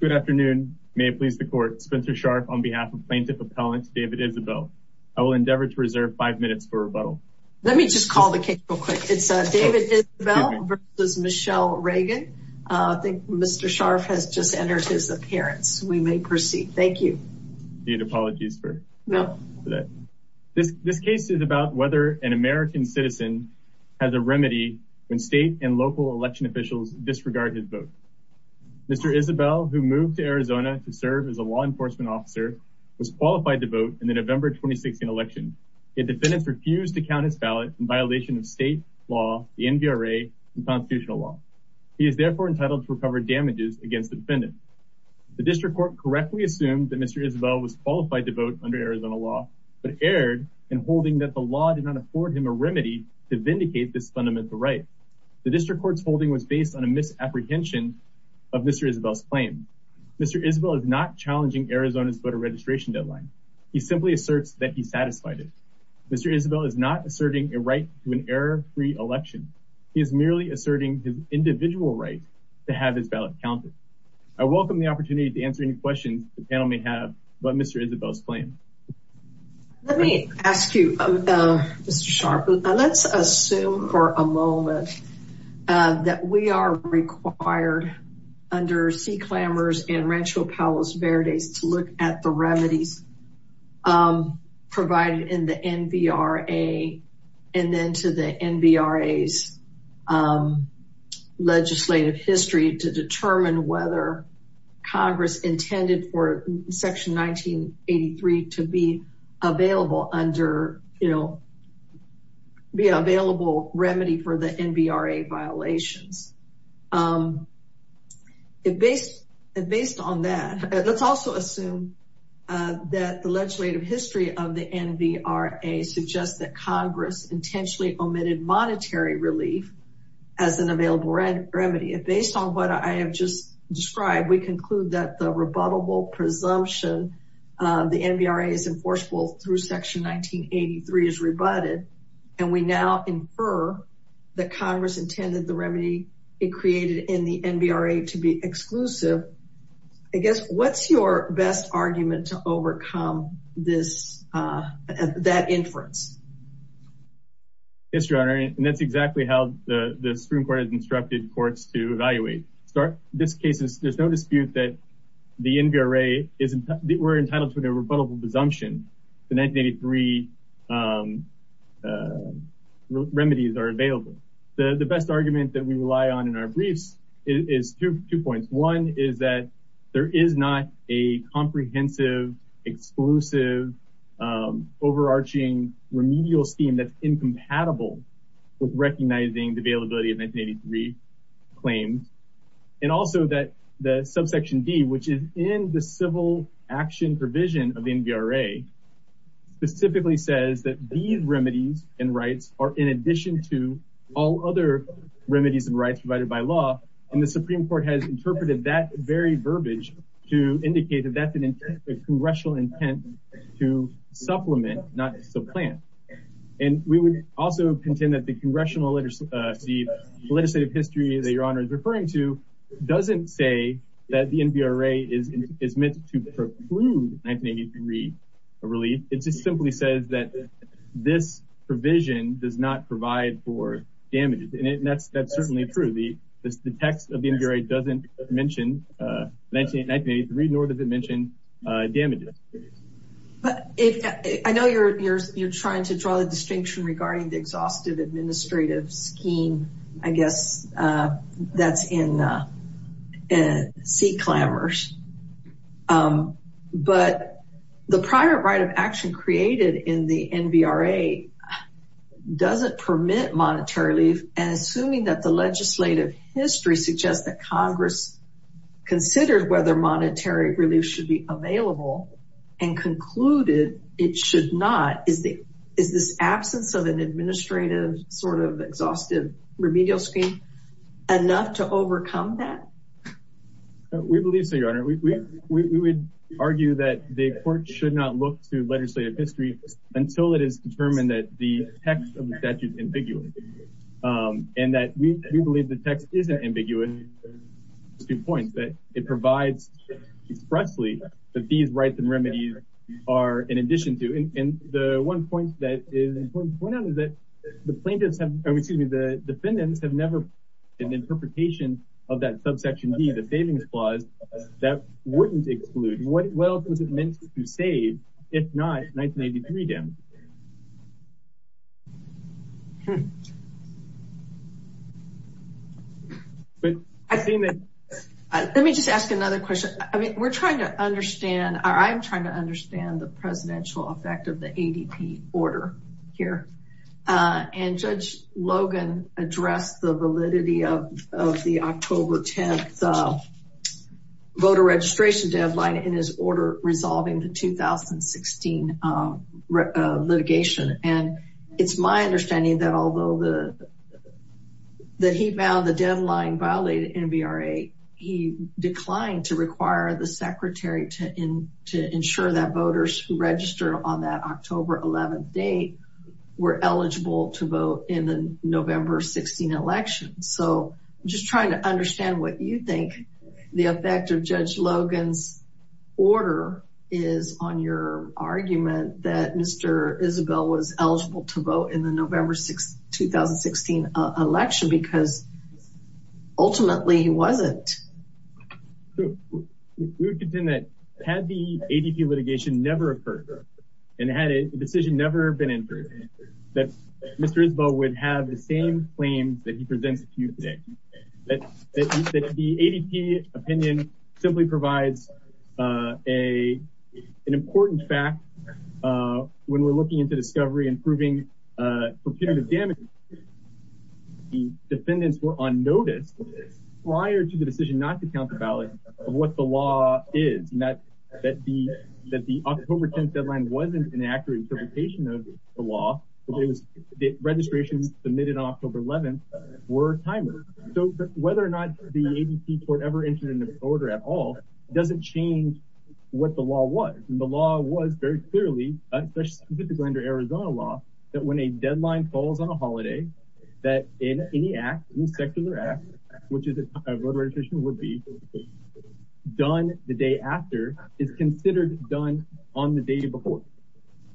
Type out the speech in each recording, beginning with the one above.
Good afternoon. May it please the court. Spencer Scharf on behalf of Plaintiff Appellant David Isabel. I will endeavor to reserve five minutes for rebuttal. Let me just call the case real quick. It's David Isabel versus Michele Reagan. I think Mr. Scharf has just entered his appearance. We may proceed. Thank you. Need apologies for that. This case is about whether an American citizen has a remedy when state and local election officials disregard his vote. Mr. Isabel, who moved to Arizona to serve as a law enforcement officer, was qualified to vote in the November 2016 election, yet defendants refused to count his ballot in violation of state law, the NVRA, and constitutional law. He is therefore entitled to recover damages against the defendant. The district court correctly assumed that Mr. Isabel was qualified to vote under Arizona law, but erred in holding that the law did not afford him a remedy to vindicate this fundamental right. The district court's holding was based on a apprehension of Mr. Isabel's claim. Mr. Isabel is not challenging Arizona's voter registration deadline. He simply asserts that he satisfied it. Mr. Isabel is not asserting a right to an error-free election. He is merely asserting his individual right to have his ballot counted. I welcome the opportunity to answer any questions the panel may have about Mr. Isabel's claim. Let me ask you, Mr. Sharpe, let's assume for a moment that we are required under C. Clammers and Rancho Palos Verdes to look at the remedies provided in the NVRA and then to N.B.R.A.'s legislative history to determine whether Congress intended for Section 1983 to be available under, you know, be available remedy for the N.B.R.A. violations. Based on that, let's also assume that the legislative history of the N.B.R.A. suggests that Congress intentionally omitted monetary relief as an available remedy. Based on what I have just described, we conclude that the rebuttable presumption of the N.B.R.A. is enforceable through Section 1983 is rebutted, and we now infer that Congress intended the remedy it created in the N.B.R.A. to be exclusive. I guess, what's your best argument to overcome this, that inference? Yes, Your Honor, and that's exactly how the Supreme Court has instructed courts to evaluate. In this case, there's no dispute that the N.B.R.A. is, we're entitled to a rebuttable presumption. The 1983 remedies are available. The best argument that we rely on in our briefs is two points. One is that there is not a comprehensive, exclusive, overarching remedial scheme that's incompatible with recognizing the availability of 1983 claims, and also that the subsection D, which is in the civil action provision of the N.B.R.A., specifically says that these remedies and rights are in addition to all other remedies and rights provided by law, and the Supreme Court has interpreted that very verbiage to indicate that that's an intent, a congressional intent to supplement, not supplant, and we would also contend that the congressional, the legislative history that Your Honor is referring to doesn't say that the N.B.R.A. is meant to preclude 1983 relief. It just simply says that this provision does not provide for damages, and that's certainly true. The text of the N.B.R.A. doesn't mention 1983, nor does it mention damages. I know you're trying to draw the distinction regarding the exhaustive administrative scheme, I guess that's in sea clamors, but the prior right of action created in the N.B.R.A. doesn't permit monetary relief, and assuming that the legislative history suggests that Congress considered whether monetary relief should be available and concluded it should not, is this absence of an administrative, sort of, exhaustive remedial scheme enough to overcome that? We believe so, Your Honor. We would argue that the court should not look to legislative history until it is determined that the text of the statute is ambiguous, and that we believe the text isn't ambiguous to the point that it provides expressly that these rights and remedies are in the N.B.R.A. The plaintiffs, excuse me, the defendants have never had an interpretation of that subsection D, the savings clause, that wouldn't exclude. What else was it meant to save, if not 1983 damages? Let me just ask another question. I mean, we're trying to understand, I'm trying to understand the presidential effect of the ADP order here, and Judge Logan addressed the validity of the October 10th voter registration deadline in his order resolving the 2016 litigation, and it's my understanding that although he found the deadline violated in N.B.R.A., he declined to require the secretary to ensure that voters who registered on that October 11th date were eligible to vote in the November 16th election. So, I'm just trying to understand what you think the effect of Judge Logan's order is on your argument that Mr. Isabel was eligible to vote in the November 2016 election because ultimately he wasn't. We would contend that had the ADP litigation never occurred, and had a decision never been entered, that Mr. Isabel would have the same claims that he presents to you today. That the ADP opinion simply provides an important fact when we're looking into discovery and proving perpetrative damage. The defendants were on notice prior to the decision not to count the ballots of what the law is, and that the October 10th deadline wasn't an accurate interpretation of the law, because the registrations submitted on October 11th were timers. So, whether or not the ADP court ever very clearly, especially under Arizona law, that when a deadline falls on a holiday, that in any act, any secular act, which is a voter registration would be done the day after, is considered done on the day before.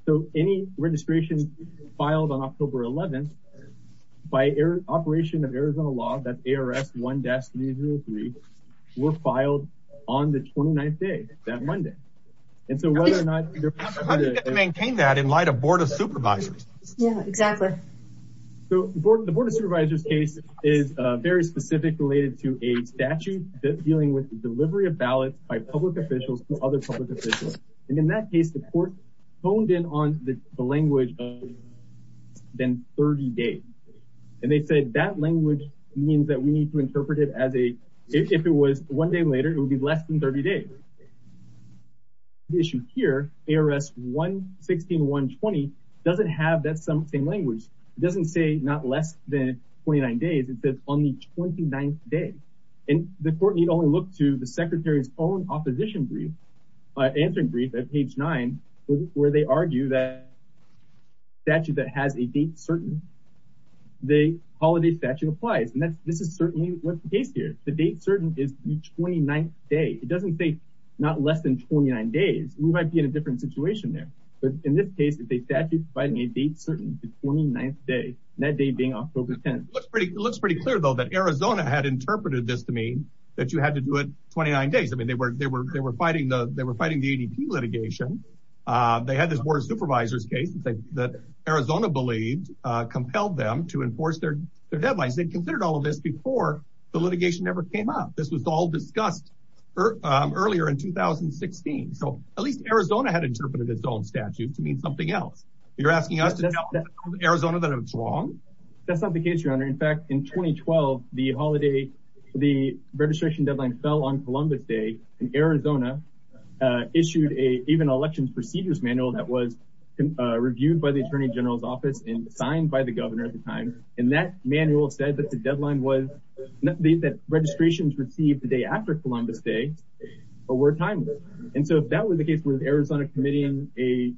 So, any registration filed on October 11th, by operation of Arizona law, that's ARS 1-303, were filed on the 29th day, that Monday. And so, whether or not... How do you get to maintain that in light of Board of Supervisors? Yeah, exactly. So, the Board of Supervisors case is very specific related to a statute dealing with the delivery of ballots by public officials to other public officials. And in that case, the court honed in on the language of less than 30 days. And they said, that language means that we need to interpret it as a, if it was one day later, it would be less than 30 days. The issue here, ARS 116-120, doesn't have that same language. It doesn't say not less than 29 days, it says only 29th day. And the court need only look to the Secretary's own opposition brief, answering brief at page nine, where they argue that statute that has a date certain, the holiday statute applies. And this is certainly what's the case here. The date certain is the 29th day. It doesn't say not less than 29 days. We might be in a different situation there. But in this case, it's a statute providing a date certain to 29th day, that day being October 10th. It looks pretty clear, though, that Arizona had interpreted this to mean that you had to do it 29 days. I mean, they were fighting the ADP litigation. They had this Board of Supervisors case that Arizona believed compelled them to enforce their deadlines. They considered all of this before the litigation ever came up. This was all discussed earlier in 2016. So at least Arizona had interpreted its own statute to mean something else. You're asking us to tell Arizona that it's wrong? That's not the case, Your Honor. In fact, in 2012, the holiday, the registration deadline fell on Columbus Day, and Arizona issued a, even election procedures manual that was reviewed by the Attorney General's office and signed by the governor at the time. And that manual said that the deadline was, that registrations received the day after Columbus Day were timeless. And so if that was the case, was Arizona committing a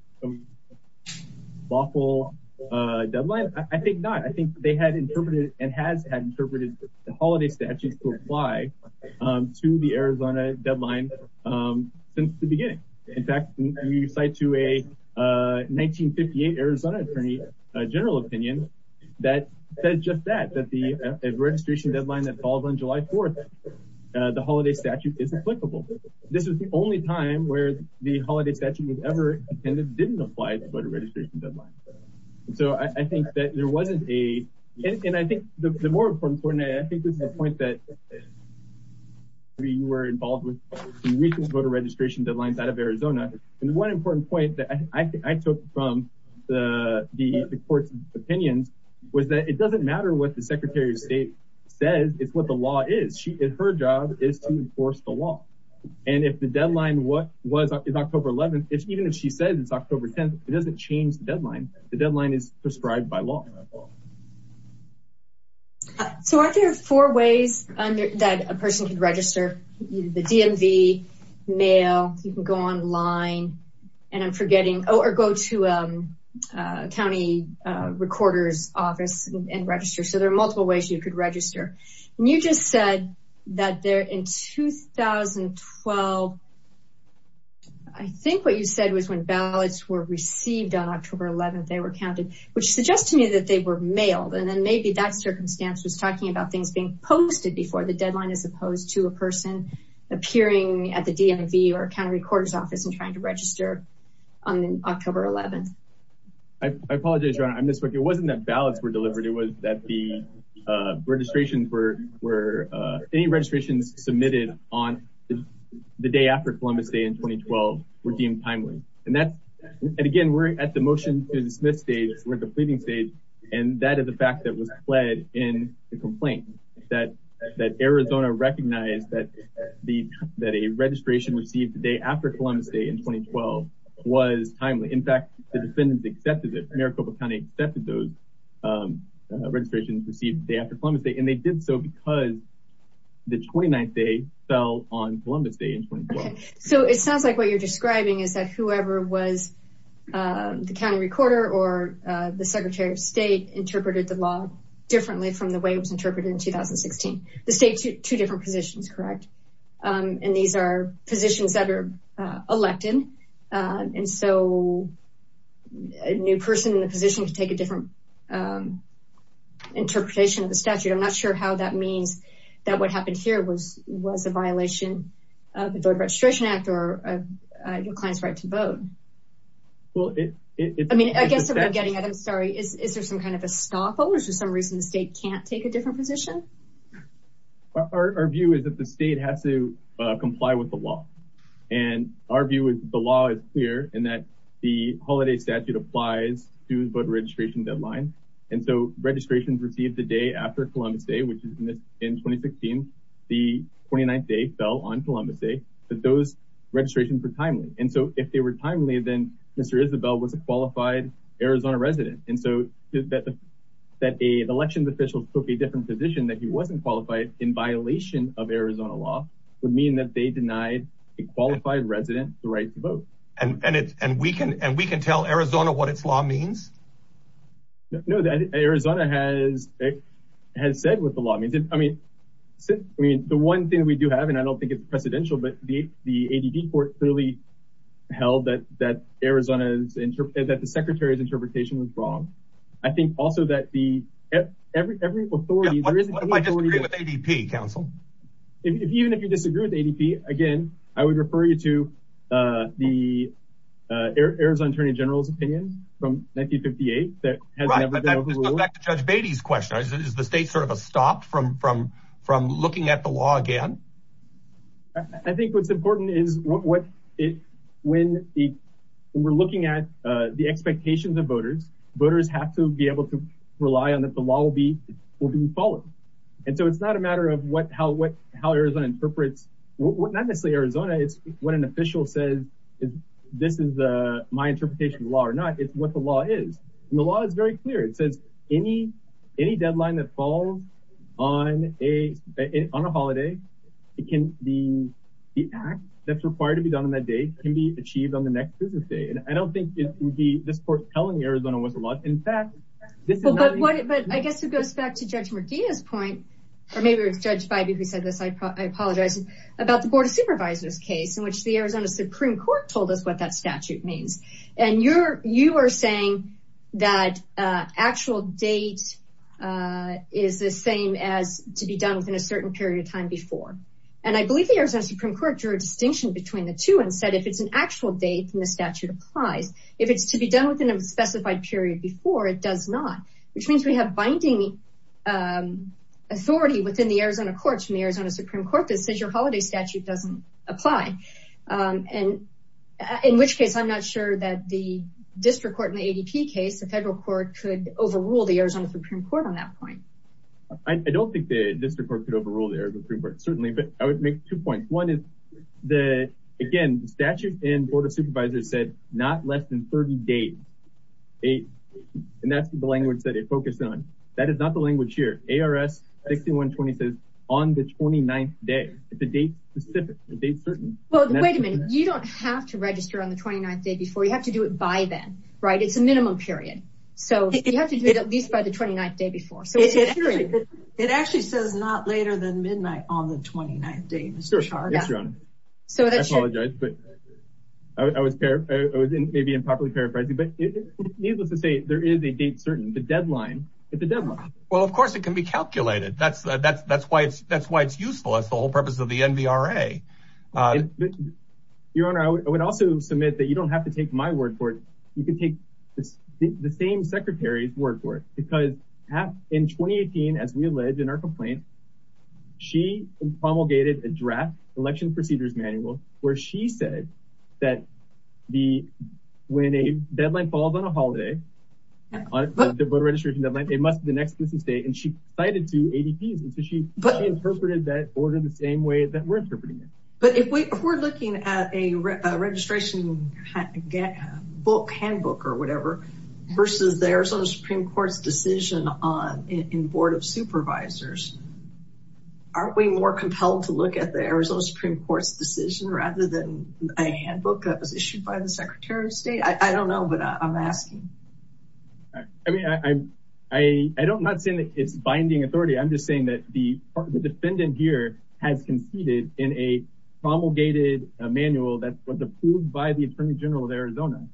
lawful deadline? I think not. I think they had interpreted and has had interpreted the holiday statutes to apply to the Arizona deadline since the beginning. In fact, you cite to a 1958 Arizona Attorney General opinion that says just that, that the registration deadline that falls on July 4th, the holiday statute is applicable. This was the only time where the holiday statute was ever intended, didn't apply to voter registration deadline. So I think that there wasn't a, and I think the more important point, and I think this is the point that we were involved with the recent voter registration deadlines out of Arizona. And one important point that I took from the court's opinions was that it doesn't matter what the Secretary of State says, it's what the law is. Her job is to enforce the law. And if the deadline was October 11th, even if she says it's October 10th, it doesn't change the deadline. The deadline is prescribed by law. So are there four ways that a person can register? The DMV, mail, you can go online, and I'm forgetting, or go to county recorder's office and register. So there are multiple ways you could register. And you just said that there in 2012, I think what you said was when ballots were received on October 11th, they were counted, which suggests to me that they were talking about things being posted before the deadline, as opposed to a person appearing at the DMV or county recorder's office and trying to register on October 11th. I apologize, Your Honor, I misspoke. It wasn't that ballots were delivered, it was that the registration for any registrations submitted on the day after Columbus Day in 2012 were deemed timely. And again, we're at the motion to dismiss stage, we're at the pleading stage, and that is the fact that was pled in the complaint, that Arizona recognized that a registration received the day after Columbus Day in 2012 was timely. In fact, the defendants accepted it, Maricopa County accepted those registrations received the day after Columbus Day, and they did so because the 29th day fell on Columbus Day in 2012. So it sounds like what you're describing is that whoever was the county recorder or the Secretary of State interpreted the law differently from the way it was interpreted in 2016. The state, two different positions, correct? And these are positions that are elected, and so a new person in the position to take a different interpretation of the statute. I'm not sure how that means that what happened here was a violation of the Voter Registration Act or your client's right to vote. I mean, I guess what I'm getting at, I'm sorry, is there some kind of estoppel or is there some reason the state can't take a different position? Our view is that the state has to comply with the law. And our view is the law is clear and that the holiday statute applies to voter registration deadlines. And so registrations received the day after Columbus Day, which is in 2016, the 29th day fell on Columbus Day, but those registrations were timely. Then Mr. Isabel was a qualified Arizona resident. And so that the election officials took a different position that he wasn't qualified in violation of Arizona law would mean that they denied a qualified resident the right to vote. And we can tell Arizona what its law means? No, Arizona has said what the law means. I mean, the one thing we do have, and I don't think it's that Arizona's interpretation, that the secretary's interpretation was wrong. I think also that every authority... What if I disagree with ADP, counsel? Even if you disagree with ADP, again, I would refer you to the Arizona Attorney General's opinion from 1958 that has never been overruled. Right, but that goes back to Judge Beatty's question. Is the state sort of a stop from looking at the law again? I think what's important is when we're looking at the expectations of voters, voters have to be able to rely on that the law will be followed. And so it's not a matter of how Arizona interprets, not necessarily Arizona, it's when an official says, this is my interpretation of the law or not, it's what the law is. And the law is very clear. It says any deadline that falls on a holiday, the act that's required to be done on that date can be achieved on the next business day. And I don't think it would be this court's telling Arizona what the law is. In fact, But I guess it goes back to Judge Medina's point, or maybe it was Judge Beiby who said this, I apologize, about the Board of Supervisors case in which the Arizona Supreme Court told us what that statute means. And you are saying that actual date is the same as to be done within a certain period of time before. And I believe the Arizona Supreme Court drew a distinction between the two and said, if it's an actual date and the statute applies, if it's to be done within a specified period before it does not, which means we have binding authority within the Arizona courts and the Arizona Supreme Court that says your holiday statute doesn't apply. And in which case, I'm not sure that the district court in the ADP case, the federal court could overrule the Arizona Supreme Court on that point. I don't think the district court could overrule the Arizona Supreme Court, certainly, but I would make two points. One is the, again, the statute and Board of Supervisors said not less than 30 days. And that's the language that it focused on. That is not the language here. ARS 6120 says on the 29th day. It's a date specific, a date certain. Well, wait a minute, you don't have to register on the 29th day before. You have to do it by then, right? It's a minimum period. So you have to do it at least by the 29th day before. It actually says not later than midnight on the 29th day. I apologize. I was maybe improperly paraphrasing, but needless to say, there is a date certain, the deadline. Well, of course it can be calculated. That's why it's useful. That's the whole purpose of the NVRA. Your Honor, I would also submit that you don't the same secretary's word for it because in 2018, as we allege in our complaint, she promulgated a draft election procedures manual where she said that the, when a deadline falls on a holiday, the voter registration deadline, it must be the next business day. And she cited two ADPs. And so she interpreted that order the same way that we're interpreting it. But if we're looking at a registration book, handbook or whatever versus the Arizona Supreme Court's decision on in board of supervisors, aren't we more compelled to look at the Arizona Supreme Court's decision rather than a handbook that was issued by the secretary of state? I don't know, but I'm asking. I mean, I don't not saying that it's authority. I'm just saying that the defendant here has conceded in a promulgated manual that was approved by the attorney general of Arizona.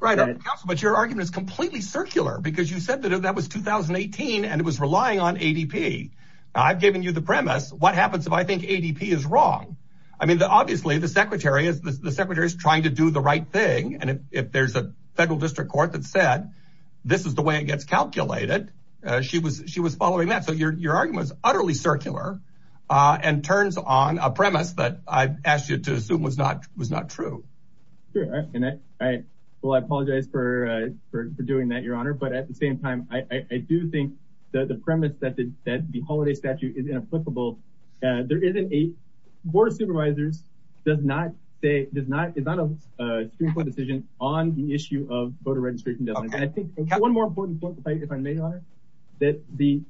Right. But your argument is completely circular because you said that that was 2018 and it was relying on ADP. I've given you the premise. What happens if I think ADP is wrong? I mean, obviously the secretary is, the secretary is trying to do the right thing. And if there's a federal district court that said, this is the way it gets calculated. She was, she was following that. So your, your argument was utterly circular and turns on a premise that I've asked you to assume was not, was not true. Sure. And I, I, well, I apologize for, for, for doing that, your honor. But at the same time, I do think that the premise that the, that the holiday statute is inapplicable, there isn't a board of supervisors does not say, does not, is not a Supreme Court decision on the issue of voter registration. And I think one more important point, if I may, that the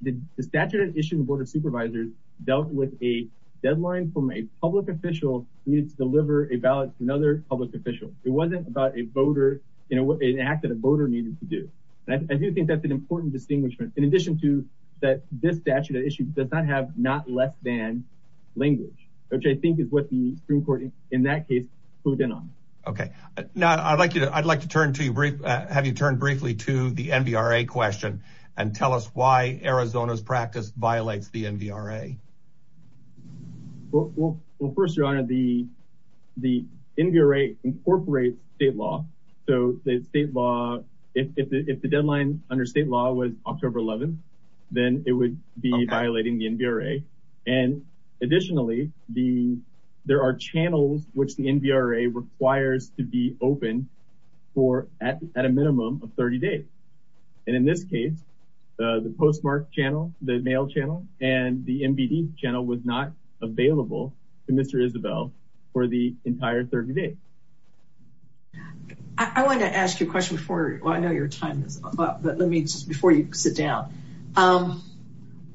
statute of issues, the board of supervisors dealt with a deadline from a public official needed to deliver a ballot to another public official. It wasn't about a voter, you know, an act that a voter needed to do. And I do think that's an important distinguishment in addition to that, this statute of issues does not have not less than language, which I think is what the Supreme Court in that case put in on. Okay. Now I'd like you to, I'd like to turn to you brief, have you turned briefly to the NVRA question and tell us why Arizona's practice violates the NVRA. Well, well, well, first your honor, the, the NVRA incorporates state law. So the state law, if the deadline under state law was October 11th, then it would be violating the NVRA. And additionally, the, there are channels, which the NVRA requires to be open for at, at a minimum of 30 days. And in this case, the postmark channel, the mail channel and the NBD channel was not available to Mr. Isabel for the entire 30 days. I wanted to ask you a question before, well, I know your time is up, but let me just, before you sit down,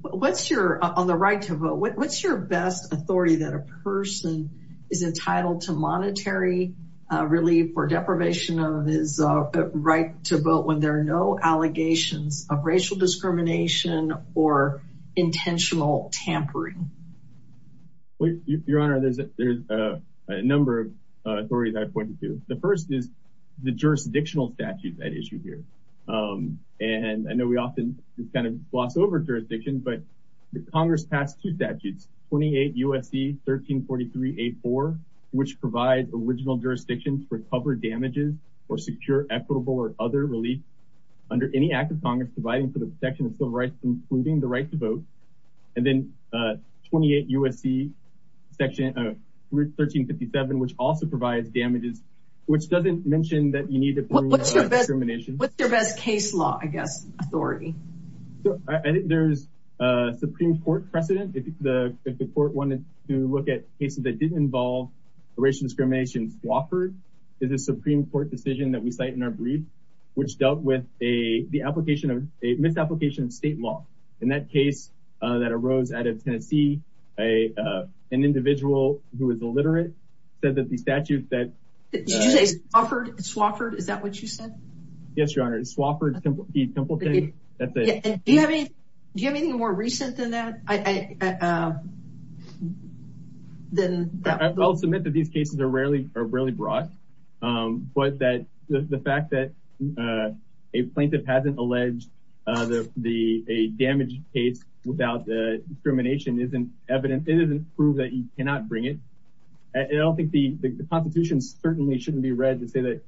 what's your, on the right to vote, what's your best authority that a person is entitled to monetary relief or deprivation of his right to vote when there are no allegations of racial discrimination or intentional tampering? Well, your honor, there's, there's a number of authorities I pointed to. The first is the jurisdictional statute that issue here. And I know we often just kind of gloss over jurisdiction, but the Congress passed two statutes, 28 USC 1343A4, which provides original jurisdictions for covered damages or secure, equitable, or other relief under any act of Congress providing for the protection of civil rights, including the right to vote. And then 28 USC section 1357, which also provides damages, which doesn't mention that you need to bring discrimination. What's your best case law, I guess, authority. There's a Supreme court precedent. If the court wanted to look at cases that didn't involve racial discrimination, Wofford is a Supreme court decision that we cite in our brief, which dealt with a, the application of a misapplication of state law. In that case that arose out of Tennessee, an individual who is illiterate said that the statute that offered it's Wofford. Is that what you said? Yes, your honor. It's Wofford. Do you have anything more recent than that? I, then I'll submit that these cases are rarely, are rarely brought. But that the fact that a plaintiff hasn't alleged the, the, a damaged case without the discrimination isn't evidence. It doesn't prove that you cannot bring it. And I don't think the constitution certainly shouldn't be read to say that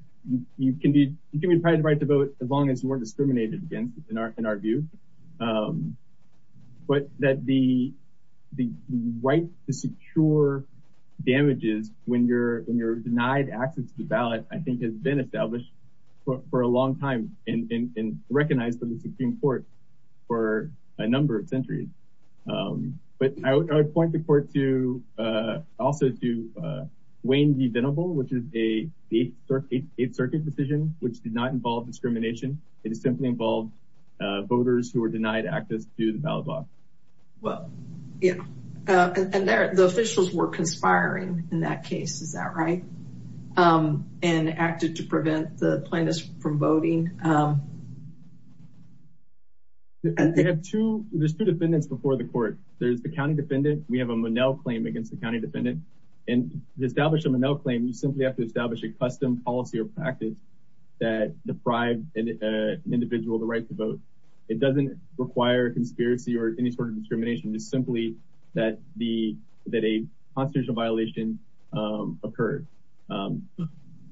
you can be, you can be deprived of right to vote as long as you weren't discriminated against in our, in our view. But that the, the right to secure damages when you're, when you're denied access to the ballot, I think has been established for a long time and recognized in the Supreme Court for a number of centuries. But I would point the court to, also to Wayne v. Denable, which is a eighth circuit decision, which did not involve discrimination. It is simply involved voters who were denied access to the ballot box. Well, yeah. And there, the officials were conspiring in that case. Is that right? And acted to prevent the plaintiffs from voting. I have two, there's two defendants before the court. There's the county defendant. We have a Monell claim against the county defendant and establish a Monell claim. You simply have to establish a custom policy or practice that deprived an individual, the right to vote. It doesn't require conspiracy or any sort of discrimination is simply that the, that a constitutional violation occurred.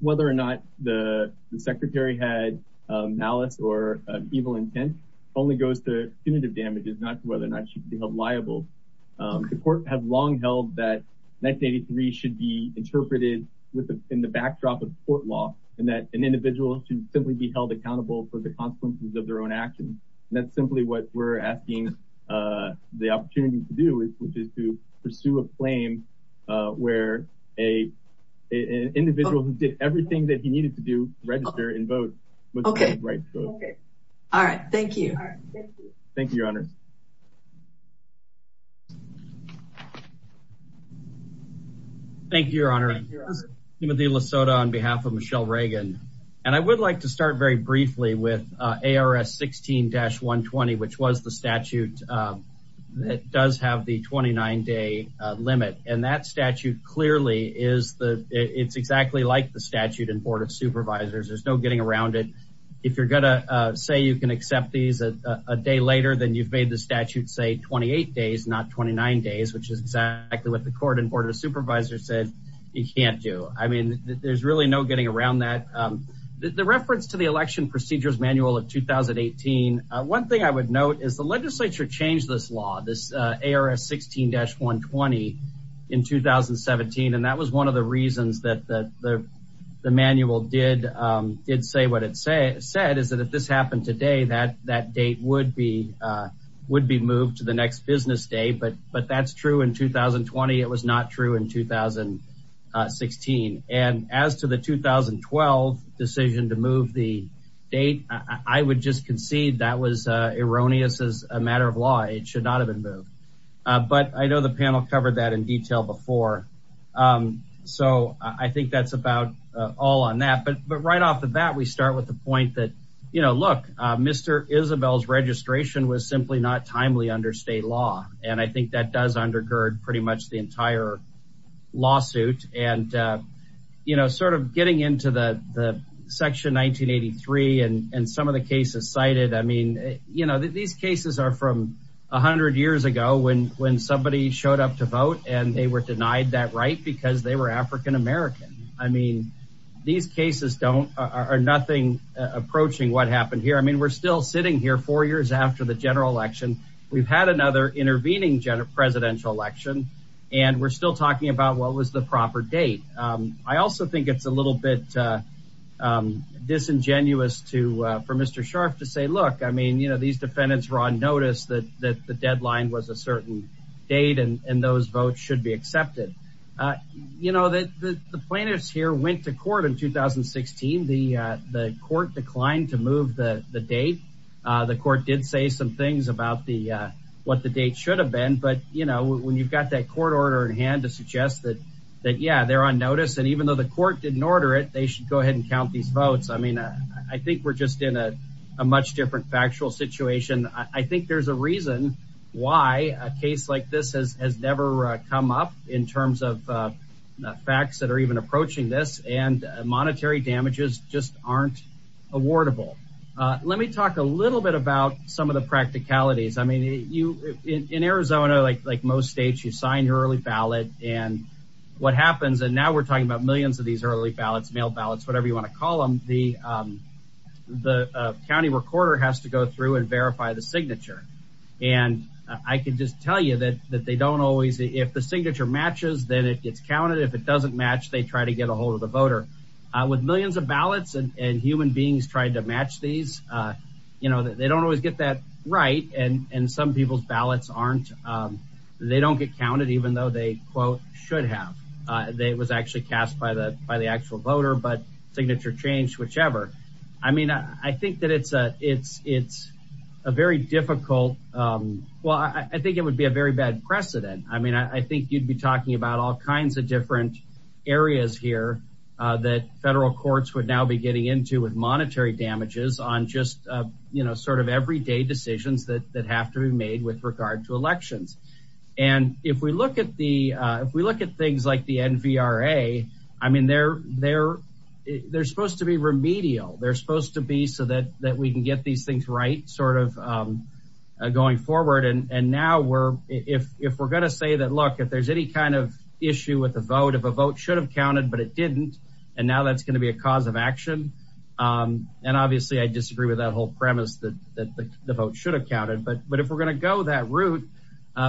Whether or not the secretary had malice or evil intent, only goes to punitive damages, not whether or not she could be held liable. The court had long held that 1983 should be interpreted with, in the backdrop of court law and that an individual should simply be held accountable for the consequences of their own actions. And that's simply what we're asking the opportunity to do is, which is to pursue a claim where a, an individual who did everything that he needed to do, register and vote, okay. All right. Thank you. Thank you, your honors. Thank you, your honor. Timothy Lasoda on behalf of Michelle Reagan. And I would like to start very briefly with ARS 16-120, which was the statute that does have the 29 day limit. And that statute clearly is the, it's exactly like the statute in board of supervisors. There's no getting around it. If you're going to say you can accept these a day later, then you've made the statute say 28 days, not 29 days, which is exactly what the court and board of supervisors said you can't do. I mean, there's really no getting around that. The reference to the election procedures manual of 2018, one thing I would note is the legislature changed this law, this 2017. And that was one of the reasons that the manual did say what it said is that if this happened today, that date would be moved to the next business day. But that's true in 2020. It was not true in 2016. And as to the 2012 decision to move the date, I would just concede that was erroneous as a matter of law. It should not have been moved. But I know the panel covered that in more. So I think that's about all on that. But right off the bat, we start with the point that, you know, look, Mr. Isabel's registration was simply not timely under state law. And I think that does undergird pretty much the entire lawsuit. And, you know, sort of getting into the section 1983 and some of the cases cited, I mean, you know, these cases are from 100 years ago when when somebody showed up to vote and they were denied that right because they were African American. I mean, these cases don't are nothing approaching what happened here. I mean, we're still sitting here four years after the general election. We've had another intervening presidential election, and we're still talking about what was the proper date. I also think it's a little bit disingenuous to for Mr. Scharf to say, look, I mean, you know, these defendants were on notice that the deadline was a certain date and those votes should be accepted. You know, that the plaintiffs here went to court in 2016. The court declined to move the date. The court did say some things about the what the date should have been. But, you know, when you've got that court order in hand to suggest that that, yeah, they're on notice. And even though the court didn't order it, they should go ahead and count these votes. I mean, I think we're just in a I think there's a reason why a case like this has never come up in terms of facts that are even approaching this. And monetary damages just aren't awardable. Let me talk a little bit about some of the practicalities. I mean, you in Arizona, like like most states, you sign your early ballot and what happens. And now we're talking about millions of these early ballots, mail ballots, whatever you want to call them. The the county recorder has to go through and verify the signature. And I can just tell you that that they don't always if the signature matches, then it gets counted. If it doesn't match, they try to get a hold of the voter with millions of ballots and human beings trying to match these. You know, they don't always get that right. And some people's ballots aren't they don't get counted, even though they, quote, should have. They was actually cast by the by the actual voter, but signature change, whichever. I mean, I think that it's a it's it's a very difficult. Well, I think it would be a very bad precedent. I mean, I think you'd be talking about all kinds of different areas here that federal courts would now be getting into with monetary damages on just, you know, sort of everyday decisions that that have to be made with regard to elections. And if we look at the if we look at things like the NVRA, I mean, they're they're they're supposed to be remedial. They're supposed to be so that that we can get these things right, sort of going forward. And now we're if if we're going to say that, look, if there's any kind of issue with the vote, if a vote should have counted, but it didn't. And now that's going to be a cause of action. And obviously, I disagree with that whole premise that the vote should have counted. But but if we're going to go that route,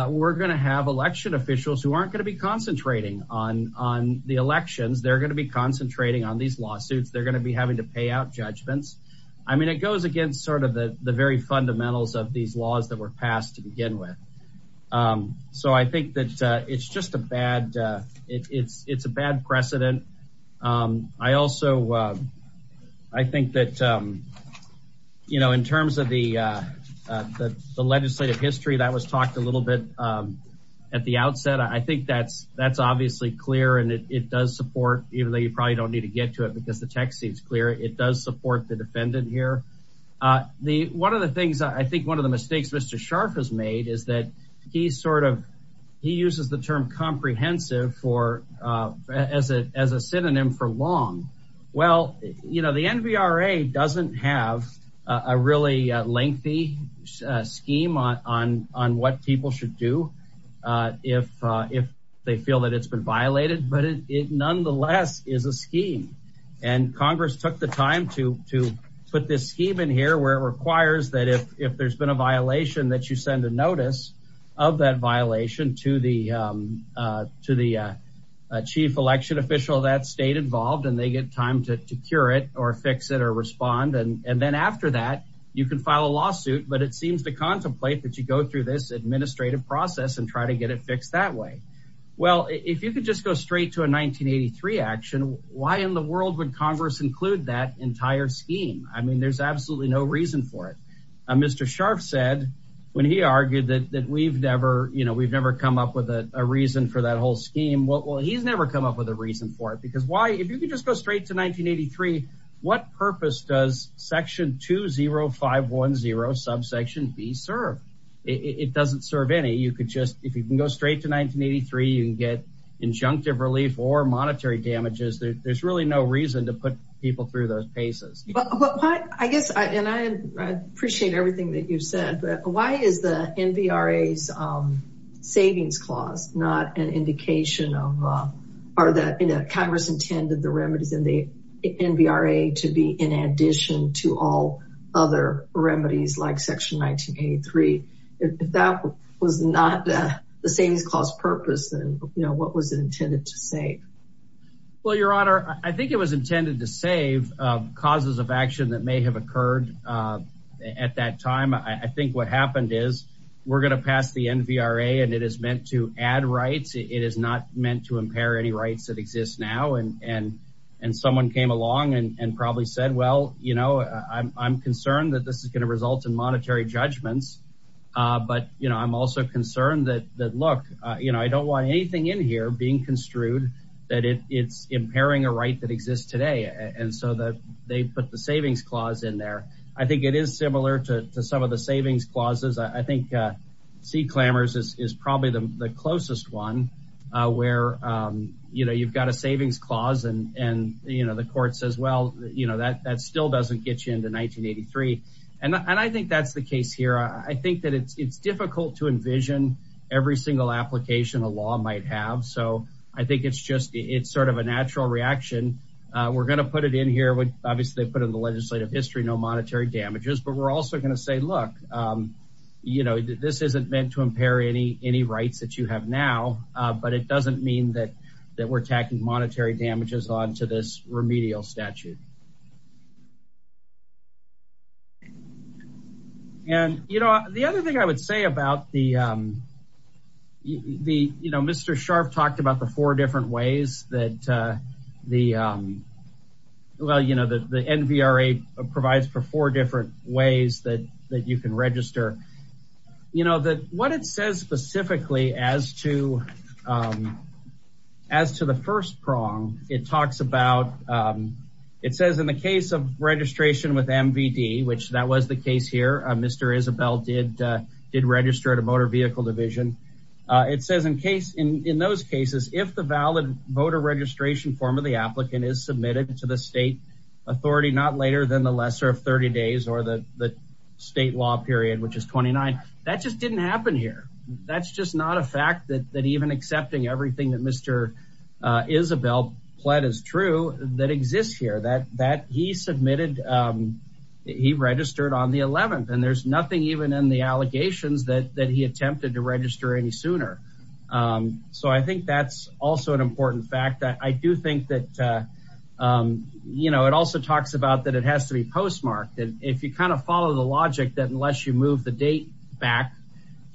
we're going to have election officials who aren't going to be concentrating on on the elections. They're going to be concentrating on these lawsuits. They're going to be having to pay out judgments. I mean, it goes against sort of the very fundamentals of these laws that were passed to begin with. So I think that it's just a bad it's it's a bad precedent. I also I think that you know, in terms of the the legislative history that was talked a little bit at the outset, I think that's that's obviously clear. And it does support even though you probably don't need to get to it because the text seems clear. It does support the defendant here. The one of the things I think one of the mistakes Mr. Scharf has made is that he's sort of he uses the term comprehensive for as a as a synonym for long. Well, you know, the NVRA doesn't have a really lengthy scheme on on on what people should do if if they feel that it's been violated, but it nonetheless is a scheme. And Congress took the time to to put this scheme in here where it requires that if if there's been a violation that you send a notice of that violation to the to the chief election official that stayed involved and they get time to cure it or fix it or respond and then after that, you can file a lawsuit. But it seems to contemplate that you go through this administrative process and try to get it fixed that way. Well, if you could just go straight to a 1983 action, why in the world would Congress include that entire scheme? I mean, there's Mr. Scharf said when he argued that that we've never, you know, we've never come up with a reason for that whole scheme. Well, he's never come up with a reason for it. Because why if you could just go straight to 1983, what purpose does section 20510 subsection B serve? It doesn't serve any you could just if you can go straight to 1983, you can get injunctive relief or monetary damages. There's really no reason to put people through those paces. But I guess and I appreciate everything that you've said, but why is the NBRA's savings clause not an indication of or that Congress intended the remedies in the NBRA to be in addition to all other remedies like section 1983? If that was not the savings clause purpose, then you know, what was it intended to say? Well, Your Honor, I think it was intended to save causes of action that may have occurred. At that time, I think what happened is, we're going to pass the NBRA, and it is meant to add rights, it is not meant to impair any rights that exist now. And, and, and someone came along and probably said, Well, you know, I'm concerned that this is going to result in monetary judgments. But you know, I'm also concerned that that look, you know, I don't want anything in here being construed, that it's impairing a right that exists today. And so that they put the savings clause in there, I think it is similar to some of the savings clauses, I think, see clamors is probably the closest one, where, you know, you've got a savings clause. And, and, you know, the court says, Well, you know, that that still doesn't get you into 1983. And I think that's the case here. I think that it's difficult to envision every single application a law might have. So I think it's just it's sort of a natural reaction, we're going to put it in here with obviously put in the legislative history, no monetary damages, but we're also going to say, Look, you know, this isn't meant to impair any, any rights that you have now. But it doesn't mean that, that we're attacking monetary damages on to this remedial statute. And, you know, the other thing I would say about the, the, you know, Mr. Sharpe talked about the four different ways that the, well, you know, the NVRA provides for four different ways that that you can register, you know, that what it says specifically as to as to the first prong, it talks about, it says in the case of registration with MVD, which that was the case here, Mr. Isabel did, did register at a motor vehicle division. It says in case in those cases, if the valid voter registration form of the applicant is submitted to the state authority not later than the lesser of 30 days or the state law period, which is 29, that just didn't happen here. That's just not a fact that even accepting everything that Mr. Isabel pled is true that exists here, that, that he submitted, he registered on the 11th and there's nothing even in the allegations that, that he attempted to register any sooner. So I think that's also an important fact that I do think that, you know, it also talks about that it has to be postmarked. And if you kind of follow the logic that unless you move the date back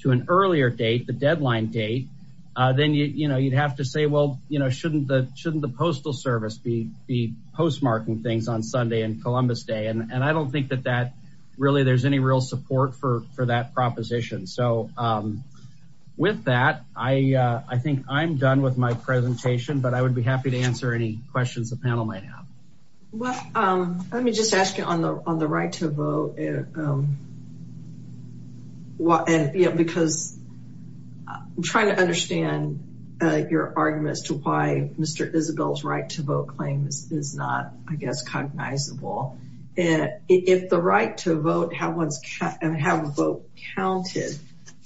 to an earlier date, the deadline date, then you, you know, you'd have to say, well, you know, shouldn't the, shouldn't the postal service be, be postmarking things on Sunday and Columbus day. And I don't think that that really there's any real support for, for that proposition. So with that, I, I think I'm done with my presentation, but I would be happy to answer any questions the panel might have. Well, let me just ask you on the, on the right to vote. And, you know, because I'm trying to understand your arguments to why Mr. Isabel's right to vote claims is not, I guess, cognizable. If the right to vote and have a vote counted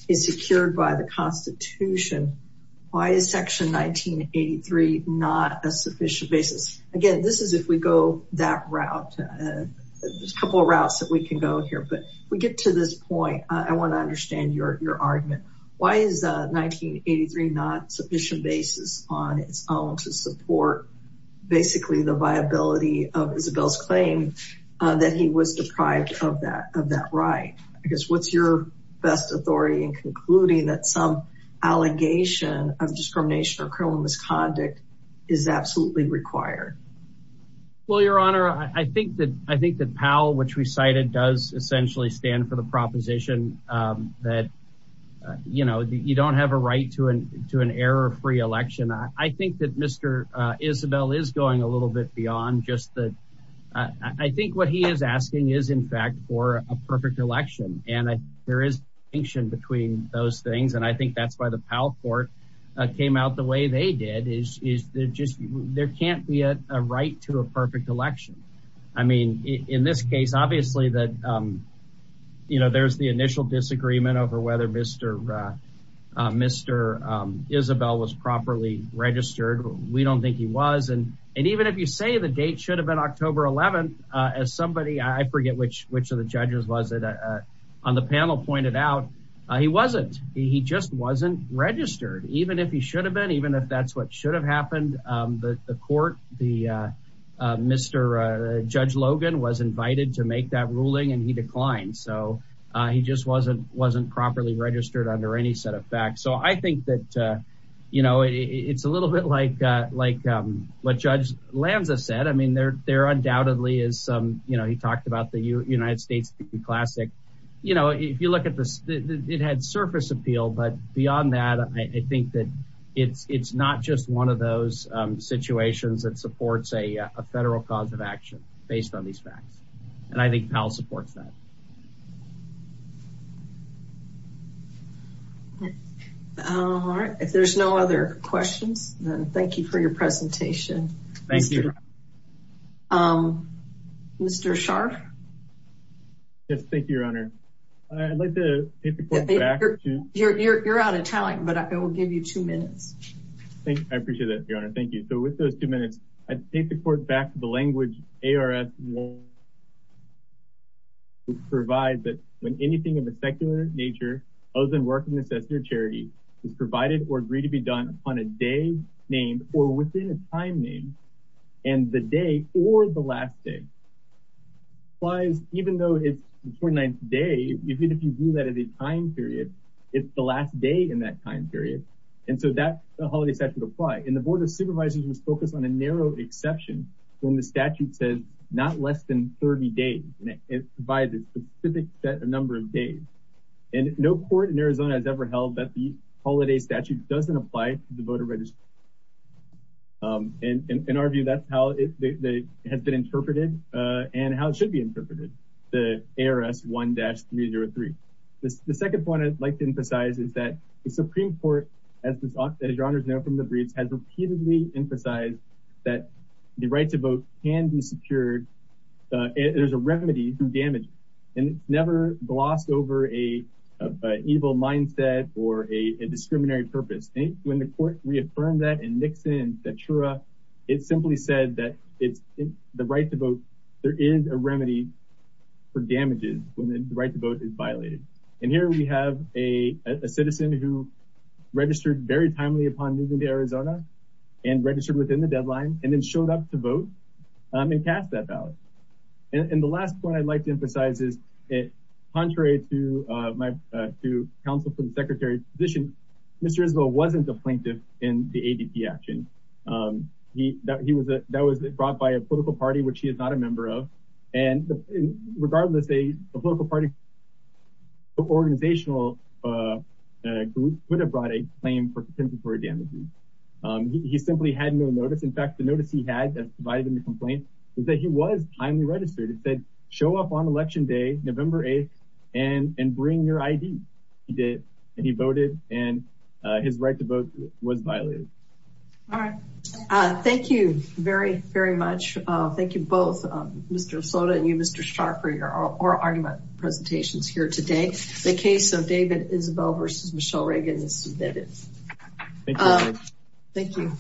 is secured by the constitution, why is section 1983 not a sufficient basis? Again, this is, if we go that here, but we get to this point, I want to understand your, your argument. Why is 1983 not sufficient basis on its own to support basically the viability of Isabel's claim that he was deprived of that, of that right? I guess, what's your best authority in concluding that some allegation of discrimination or criminal misconduct is absolutely required? Well, your honor, I think that, I think that Powell, which we cited does essentially stand for the proposition that, you know, you don't have a right to an, to an error-free election. I think that Mr. Isabel is going a little bit beyond just the, I think what he is asking is in fact for a perfect election. And there is distinction between those things. And I think that's why the Powell court came out the way they did is, is there just, there can't be a right to a perfect election. I mean, in this case, obviously that, you know, there's the initial disagreement over whether Mr. Mr. Isabel was properly registered. We don't think he was. And, and even if you say the date should have been October 11th, as somebody, I forget which, which of the judges was it, on the panel pointed out, he wasn't, he just wasn't registered. Even if he should have been, even if that's what should have happened, the court, the Mr. Judge Logan was invited to make that ruling and he declined. So he just wasn't, wasn't properly registered under any set of facts. So I think that, you know, it's a little bit like, like what Judge Lanza said. I mean, there, there undoubtedly is some, you know, he talked about the United States classic. You know, if you look at this, it had surface appeal, but beyond that, I think that it's, it's not just one of those situations that supports a federal cause of action based on these facts. And I think Powell supports that. All right. If there's no other questions, thank you for your presentation. Thank you. Mr. Scharf. Yes. Thank you, Your Honor. I'd like to, you're out of time, but I will give you two minutes. Thank you. I appreciate that, Your Honor. Thank you. So with those two minutes, I'd take the court back to the language ARS provides that when anything of a secular nature other than work and necessity or charity is provided or agreed to be done on a day named or within a time name and the day or the last day applies, even though it's the 29th day, even if you do that at a time period, it's the last day in that time period. And so that the holiday statute apply and the board of supervisors was focused on a narrow exception when the statute says not less than 30 days. And it provides a specific set of number of days. And no court in Arizona has ever held that the holiday statute doesn't apply to the voter register. And in our view, that's how it has been interpreted and how it should be interpreted. The ARS 1-303. The second point I'd like to emphasize is that the Supreme Court, as Your Honor has known from the briefs, has repeatedly emphasized that the right to vote can be secured. There's a remedy to damage. And it's never glossed over an evil mindset or a discriminatory purpose. When the court reaffirmed that in Nixon and Satura, it simply said that the right to vote, there is a remedy for damages when the right to vote is violated. And here we have a citizen who registered very timely upon moving to Arizona and registered within the deadline and then showed up to vote and cast that ballot. And the last point I'd like to emphasize is it contrary to my counsel from the secretary's position, Mr. Isbell wasn't a plaintiff in the ADP action. That was brought by a political party, which he is not a member of. And regardless, a political party, an organizational group would have brought a claim for contempt of court damages. He simply had no notice. In fact, the notice he had that provided him the complaint was that he was timely registered. It said, show up on election day, November 8th, and bring your ID. He did, and he voted, and his right to vote was violated. All right. Thank you very, very much. Thank you both, Mr. Sota and you, Mr. Scharf, for your oral argument presentations here today. The case of David Isbell versus Michelle Reagan is submitted. Thank you.